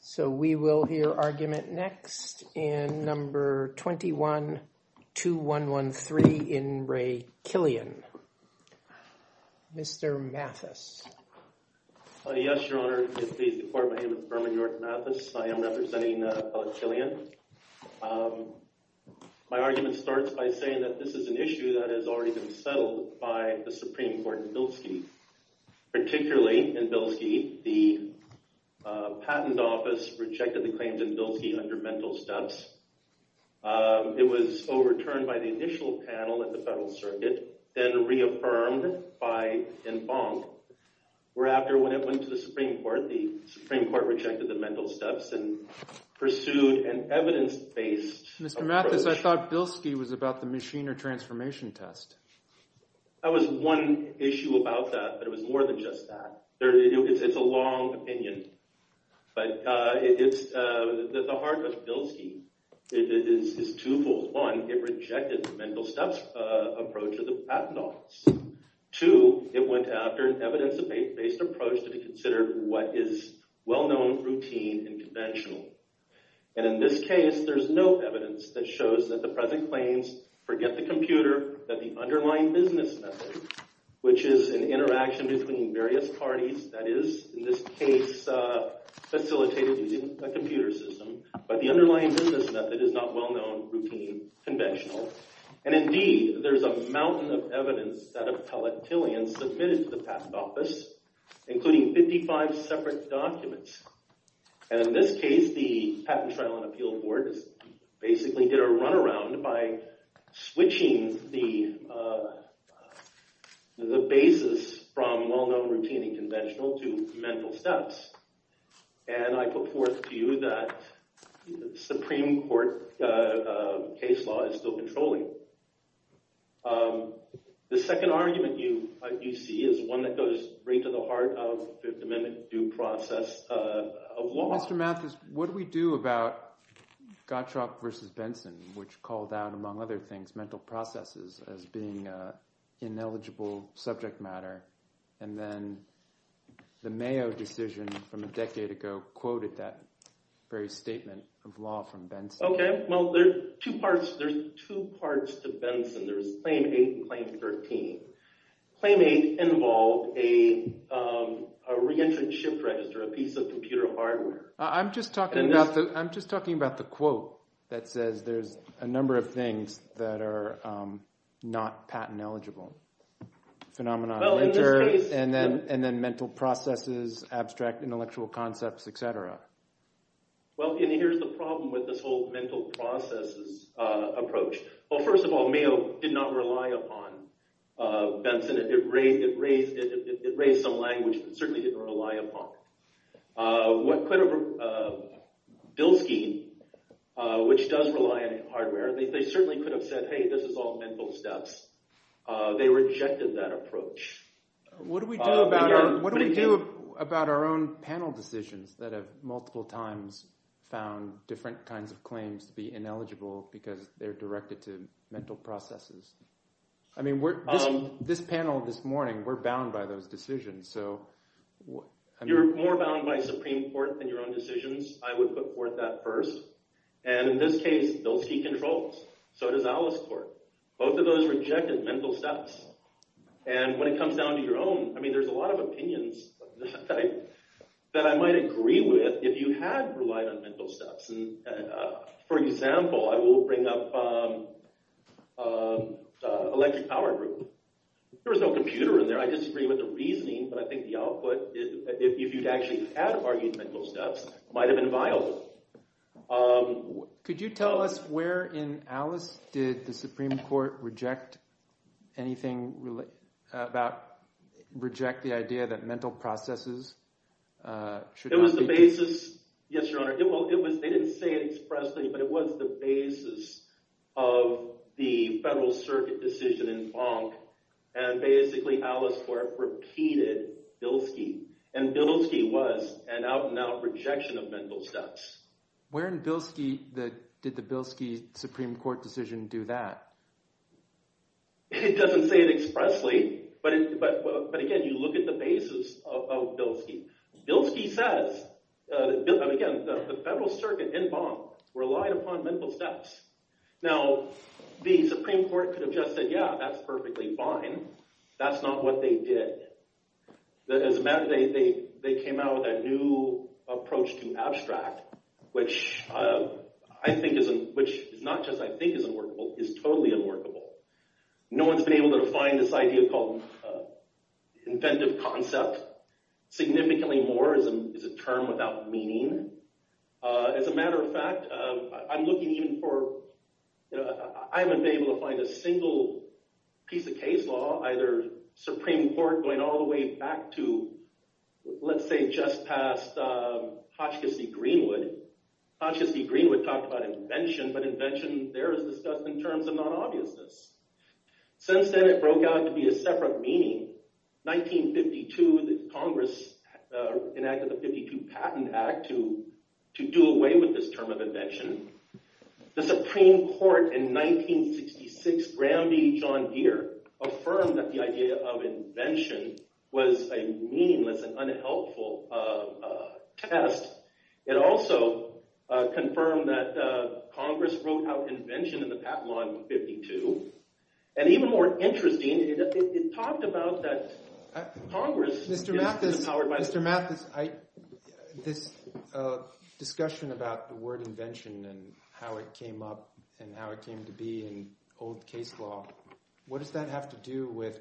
So, we will hear argument next in number 21-2113 in Re Killian. Mr. Mathis. Yes, Your Honor. My name is Berman York Mathis. I am representing Re Killian. My argument starts by saying that this is an issue that has already been settled by the Supreme Court in Bilski. Particularly in Bilski, the Patent Office rejected the claims in Bilski under mental steps. It was overturned by the initial panel at the Federal Circuit, then reaffirmed in Bonk. Whereafter, when it went to the Supreme Court, the Supreme Court rejected the mental steps and pursued an evidence-based approach. Mr. Mathis, I thought Bilski was about the machine or transformation test. That was one issue about that, but it was more than just that. It's a long opinion, but the heart of Bilski is twofold. One, it rejected the mental steps approach of the Patent Office. Two, it went after an evidence-based approach to consider what is well-known, routine, and conventional. And in this case, there's no evidence that shows that the present claims forget the computer, that the underlying business method, which is an interaction between various parties that is, in this case, facilitated using a computer system, but the underlying business method is not well-known, routine, conventional. And indeed, there's a mountain of evidence that Appellate Killian submitted to the Patent Office, including 55 separate documents. And in this case, the Patent Trial and Appeal Board basically did a runaround by switching the basis from well-known, routine, and conventional to mental steps. And I put forth to you that the Supreme Court case law is still controlling. The second argument you see is one that goes right to the heart of the Fifth Amendment due process of law. Mr. Mathis, what do we do about Gottschalk v. Benson, which called out, among other things, mental processes as being an ineligible subject matter? And then the Mayo decision from a decade ago quoted that very statement of law from Benson. Okay, well, there's two parts to Benson. There's Claim 8 and Claim 13. Claim 8 involved a re-entrant shift register, a piece of computer hardware. I'm just talking about the quote that says there's a number of things that are not patent eligible. Phenomenon of winter, and then mental processes, abstract intellectual concepts, etc. Well, and here's the problem with this whole mental processes approach. Well, first of all, Mayo did not rely upon Benson. It raised some language, but it certainly didn't rely upon it. What could have – Bilski, which does rely on hardware, they certainly could have said, hey, this is all mental steps. They rejected that approach. What do we do about our own panel decisions that have multiple times found different kinds of claims to be ineligible because they're directed to mental processes? I mean this panel this morning, we're bound by those decisions. You're more bound by Supreme Court than your own decisions. I would put forth that first. And in this case, Bilski controls, so does Alice Court. Both of those rejected mental steps. And when it comes down to your own, I mean there's a lot of opinions that I might agree with if you had relied on mental steps. For example, I will bring up electric power group. There was no computer in there. I disagree with the reasoning, but I think the output, if you'd actually had argued mental steps, might have been violent. Could you tell us where in Alice did the Supreme Court reject anything about – reject the idea that mental processes should not be – It was the basis – yes, Your Honor. They didn't say it expressly, but it was the basis of the Federal Circuit decision in Bonk. And basically Alice Court repeated Bilski. And Bilski was an out-and-out rejection of mental steps. Where in Bilski did the Bilski Supreme Court decision do that? It doesn't say it expressly, but again, you look at the basis of Bilski. Bilski says – again, the Federal Circuit in Bonk relied upon mental steps. Now, the Supreme Court could have just said, yeah, that's perfectly fine. That's not what they did. They came out with a new approach to abstract, which I think is – which is not just I think is unworkable. It's totally unworkable. No one's been able to define this idea called inventive concept significantly more as a term without meaning. As a matter of fact, I'm looking even for – I haven't been able to find a single piece of case law, either Supreme Court going all the way back to let's say just past Hotchkiss v. Greenwood. Hotchkiss v. Greenwood talked about invention, but invention there is discussed in terms of non-obviousness. Since then it broke out to be a separate meaning. In 1952, Congress enacted the 52 Patent Act to do away with this term of invention. The Supreme Court in 1966, Gramby v. John Deere, affirmed that the idea of invention was a meaningless and unhelpful test. It also confirmed that Congress wrote out invention in the Patent Law in 1952. And even more interesting, it talked about that Congress – Mr. Mathis, this discussion about the word invention and how it came up and how it came to be in old case law, what does that have to do with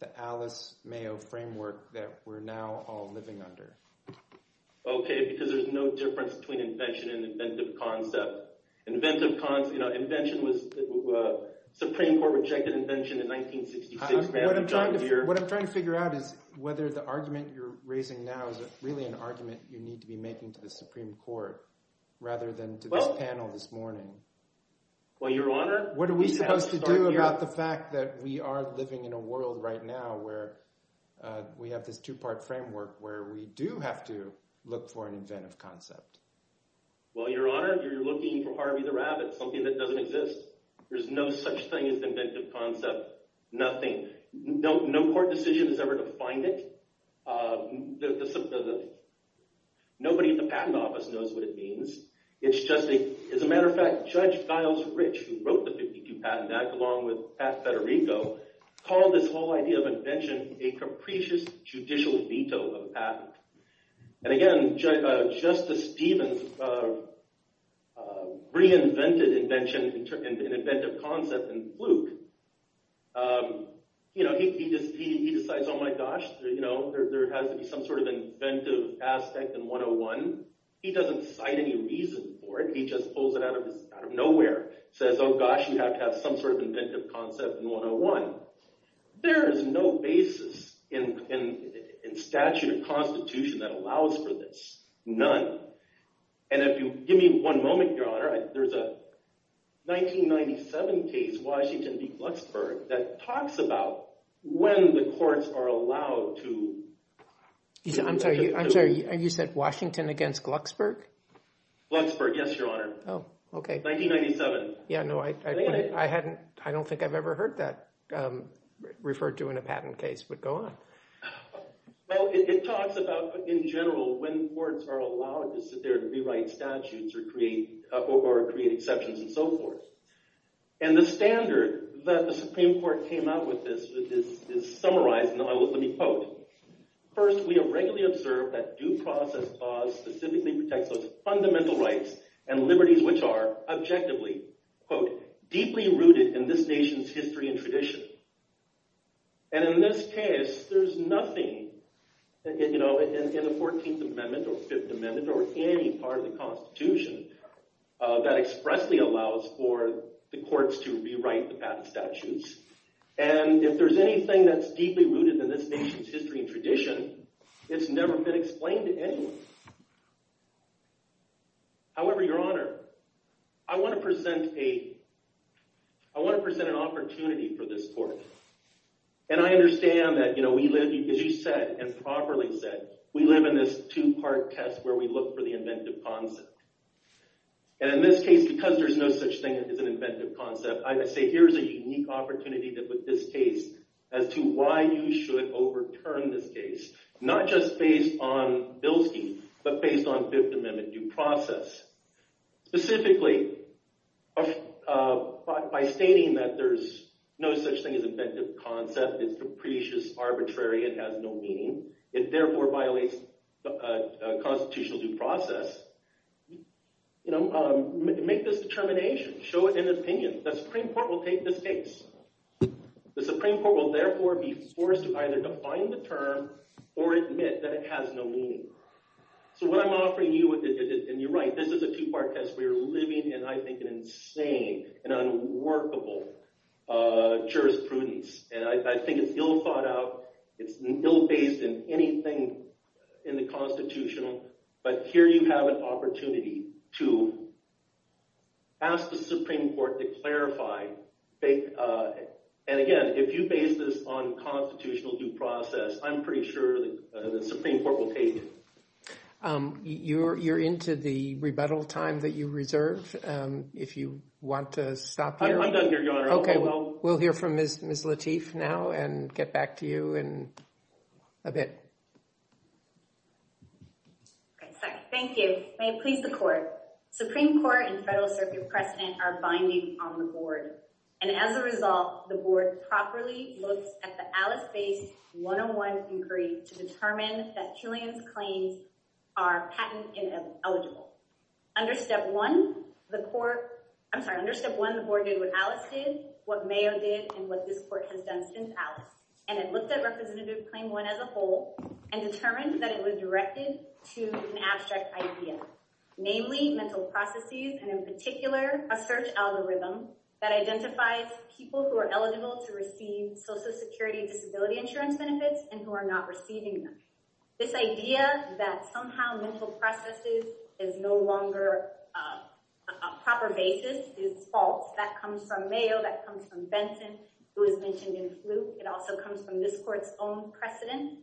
the Alice Mayo framework that we're now all living under? Okay, because there's no difference between invention and inventive concept. Invention was – Supreme Court rejected invention in 1966, Gramby v. John Deere. What I'm trying to figure out is whether the argument you're raising now is really an argument you need to be making to the Supreme Court rather than to this panel this morning. Well, Your Honor – What are we supposed to do about the fact that we are living in a world right now where we have this two-part framework where we do have to look for an inventive concept? Well, Your Honor, you're looking for Harvey the Rabbit, something that doesn't exist. There's no such thing as inventive concept. Nothing. No court decision has ever defined it. Nobody at the Patent Office knows what it means. It's just a – as a matter of fact, Judge Giles Rich, who wrote the 52 Patent Act along with Pat Federico, called this whole idea of invention a capricious judicial veto of patent. And again, Justice Stevens reinvented invention and inventive concept in Fluke. He decides, oh my gosh, there has to be some sort of inventive aspect in 101. He doesn't cite any reason for it. He just pulls it out of nowhere. Says, oh gosh, you have to have some sort of inventive concept in 101. There is no basis in statute or constitution that allows for this. None. And if you give me one moment, Your Honor, there's a 1997 case, Washington v. Glucksberg, that talks about when the courts are allowed to – I'm sorry. You said Washington against Glucksberg? Glucksberg, yes, Your Honor. Oh, okay. 1997. Yeah, no, I hadn't – I don't think I've ever heard that referred to in a patent case, but go on. Well, it talks about, in general, when courts are allowed to sit there and rewrite statutes or create exceptions and so forth. And the standard that the Supreme Court came out with this is summarized – let me quote. First, we have regularly observed that due process law specifically protects those fundamental rights and liberties which are objectively, quote, deeply rooted in this nation's history and tradition. And in this case, there's nothing in the 14th Amendment or 5th Amendment or any part of the Constitution that expressly allows for the courts to rewrite the patent statutes. And if there's anything that's deeply rooted in this nation's history and tradition, it's never been explained to anyone. However, Your Honor, I want to present a – I want to present an opportunity for this court. And I understand that, you know, we live – as you said and properly said, we live in this two-part test where we look for the inventive concept. And in this case, because there's no such thing as an inventive concept, I say here's a unique opportunity that with this case as to why you should overturn this case, not just based on Bilski, but based on 5th Amendment due process. Specifically, by stating that there's no such thing as inventive concept, it's capricious, arbitrary, it has no meaning, it therefore violates constitutional due process, you know, make this determination. Show it in an opinion. The Supreme Court will take this case. The Supreme Court will therefore be forced to either define the term or admit that it has no meaning. So what I'm offering you, and you're right, this is a two-part test. We are living in, I think, an insane and unworkable jurisprudence. And I think it's ill-thought-out. It's ill-based in anything in the constitutional. But here you have an opportunity to ask the Supreme Court to clarify. And again, if you base this on constitutional due process, I'm pretty sure the Supreme Court will take it. You're into the rebuttal time that you reserve, if you want to stop here. I'm done here, Your Honor. Okay, we'll hear from Ms. Lateef now and get back to you in a bit. Thank you. May it please the Court. Supreme Court and Federal Circuit precedent are binding on the Board. And as a result, the Board properly looks at the Alice-based one-on-one inquiry to determine that Killian's claims are patent-eligible. Under Step 1, the Board did what Alice did, what Mayo did, and what this Court has done since Alice. And it looked at Representative Claim 1 as a whole and determined that it was directed to an abstract idea, namely mental processes. And in particular, a search algorithm that identifies people who are eligible to receive Social Security Disability Insurance benefits and who are not receiving them. This idea that somehow mental processes is no longer a proper basis is false. That comes from Mayo, that comes from Benson, who was mentioned in the fluke. It also comes from this Court's own precedent.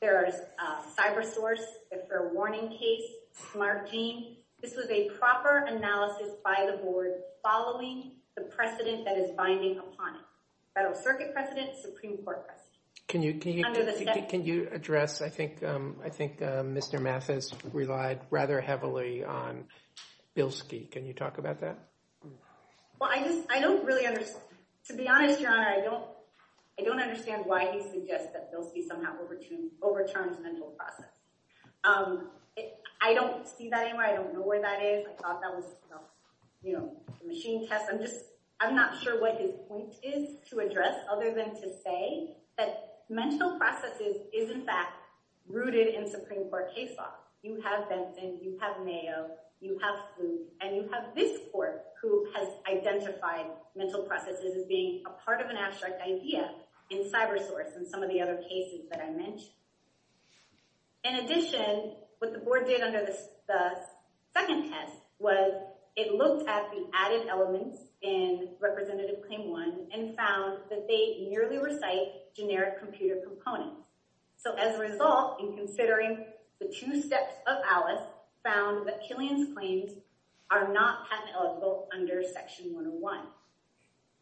There is a cyber source, a fair warning case, smart gene. This was a proper analysis by the Board following the precedent that is binding upon it. Federal Circuit precedent, Supreme Court precedent. Can you address? I think Mr. Mathis relied rather heavily on Bilski. Can you talk about that? Well, I don't really understand. To be honest, Your Honor, I don't understand why he suggests that Bilski somehow overturns mental processes. I don't see that anywhere. I don't know where that is. I thought that was, you know, a machine test. I'm just, I'm not sure what his point is to address other than to say that mental processes is in fact rooted in Supreme Court case law. You have Benson, you have Mayo, you have fluke, and you have this Court who has identified mental processes as being a part of an abstract idea in cyber source and some of the other cases that I mentioned. In addition, what the Board did under the second test was it looked at the added elements in Representative Claim 1 and found that they merely recite generic computer components. So as a result, in considering the two steps of Alice, found that Killian's claims are not patent eligible under Section 101.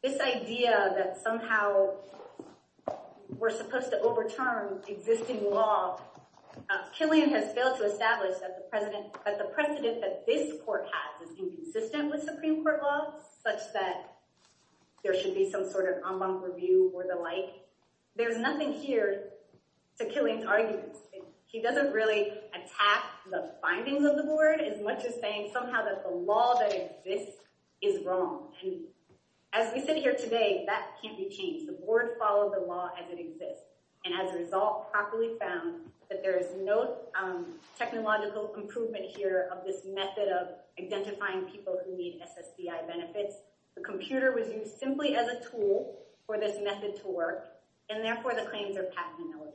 This idea that somehow we're supposed to overturn existing law, Killian has failed to establish that the precedent that this Court has is inconsistent with Supreme Court law such that there should be some sort of en banc review or the like. There's nothing here to Killian's arguments. He doesn't really attack the findings of the Board as much as saying somehow that the law that exists is wrong. And as we sit here today, that can't be changed. The Board followed the law as it exists. And as a result, properly found that there is no technological improvement here of this method of identifying people who need SSDI benefits. The computer was used simply as a tool for this method to work, and therefore the claims are patent eligible.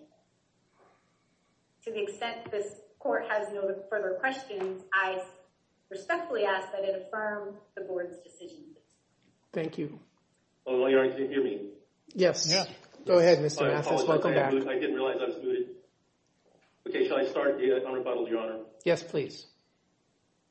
To the extent this Court has no further questions, I respectfully ask that it affirm the Board's decision. Thank you. Your Honor, can you hear me? Yes. Go ahead, Mr. Mathis. Welcome back. I didn't realize I was muted. Okay, shall I start, Your Honor? Yes, please.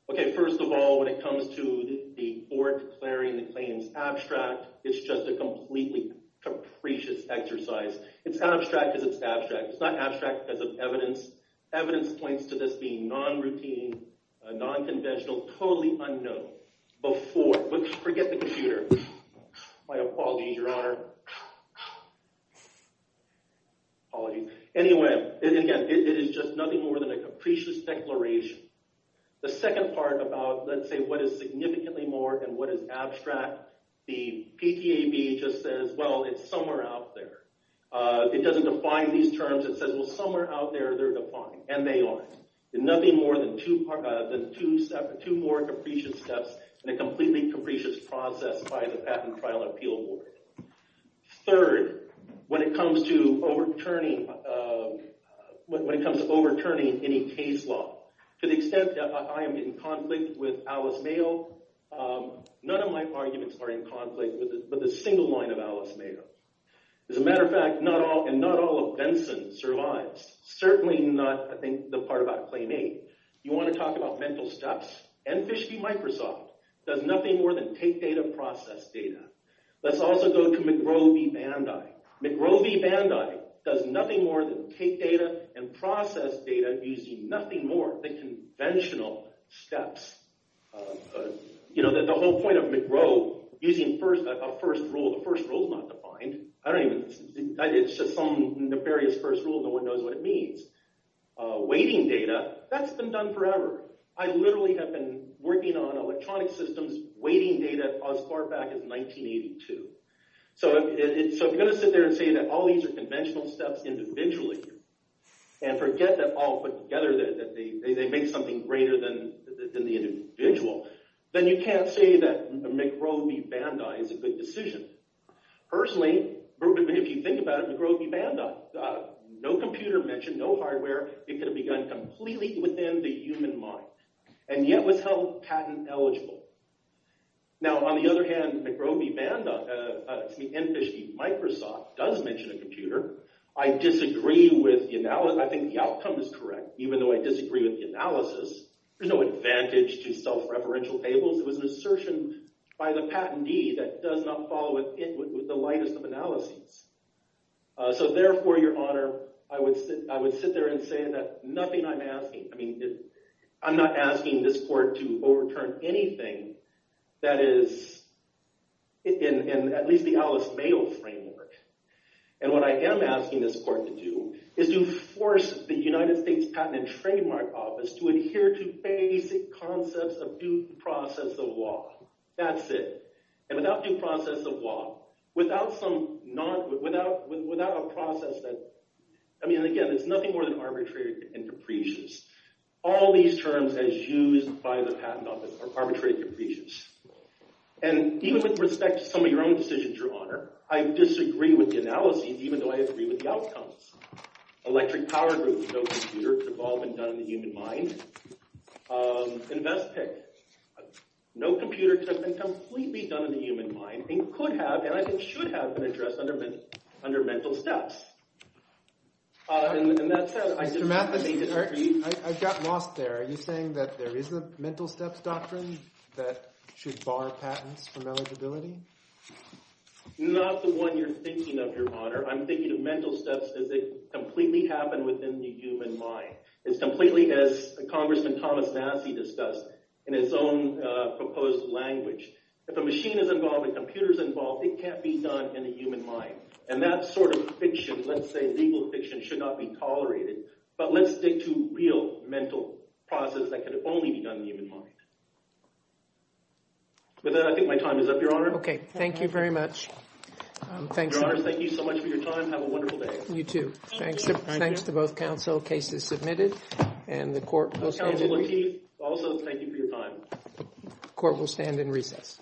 Okay, first of all, when it comes to the Board declaring the claims abstract, it's just a completely capricious exercise. It's not abstract because it's abstract. It's not abstract because of evidence. Evidence points to this being non-routine, non-conventional, totally unknown, before. Forget the computer. My apologies, Your Honor. Apologies. Anyway, it is just nothing more than a capricious declaration. The second part about, let's say, what is significantly more and what is abstract, the PTAB just says, well, it's somewhere out there. It doesn't define these terms. It says, well, somewhere out there they're defined, and they are. Nothing more than two more capricious steps in a completely capricious process by the Patent Trial Appeal Board. Third, when it comes to overturning any case law, to the extent that I am in conflict with Alice Mayo, none of my arguments are in conflict with a single line of Alice Mayo. As a matter of fact, not all of Benson survives. Certainly not, I think, the part about Claim 8. You want to talk about mental steps? Enfish v. Microsoft does nothing more than take data, process data. Let's also go to McGrow v. Bandai. McGrow v. Bandai does nothing more than take data and process data using nothing more than conventional steps. The whole point of McGrow, using a first rule, the first rule is not defined. It's just some nefarious first rule. No one knows what it means. Weighting data, that's been done forever. I literally have been working on electronic systems weighting data as far back as 1982. So if you're going to sit there and say that all these are conventional steps individually, and forget that all put together they make something greater than the individual, then you can't say that McGrow v. Bandai is a good decision. Personally, if you think about it, McGrow v. Bandai. No computer mentioned, no hardware. It could have begun completely within the human mind, and yet was held patent eligible. Now, on the other hand, McGrow v. Bandai, I mean Enfish v. Microsoft does mention a computer. I disagree with the analysis. I think the outcome is correct, even though I disagree with the analysis. There's no advantage to self-referential tables. It was an assertion by the patentee that does not follow it with the lightest of analyses. So therefore, Your Honor, I would sit there and say that nothing I'm asking. I'm not asking this court to overturn anything that is in at least the Alice Mayo framework. And what I am asking this court to do is to force the United States Patent and Trademark Office to adhere to basic concepts of due process of law. That's it. And without due process of law, without a process that – I mean, again, it's nothing more than arbitrary and capricious. All these terms, as used by the patent office, are arbitrary and capricious. And even with respect to some of your own decisions, Your Honor, I disagree with the analysis, even though I agree with the outcomes. Electric power groups, no computer. It could have all been done in the human mind. Investigate. No computer could have been completely done in the human mind and could have and I think should have been addressed under mental steps. And that said, I disagree. Mr. Matheson, I got lost there. Are you saying that there is a mental steps doctrine that should bar patents from eligibility? Not the one you're thinking of, Your Honor. I'm thinking of mental steps as they completely happen within the human mind. It's completely as Congressman Thomas Nassie discussed in his own proposed language. If a machine is involved and a computer is involved, it can't be done in the human mind. And that sort of fiction, let's say legal fiction, should not be tolerated. But let's stick to real mental process that can only be done in the human mind. With that, I think my time is up, Your Honor. Okay. Thank you very much. Your Honors, thank you so much for your time. Have a wonderful day. You too. Thank you. Thanks to both counsel. Case is submitted. And the court will stand in recess. Also, thank you for your time. Court will stand in recess.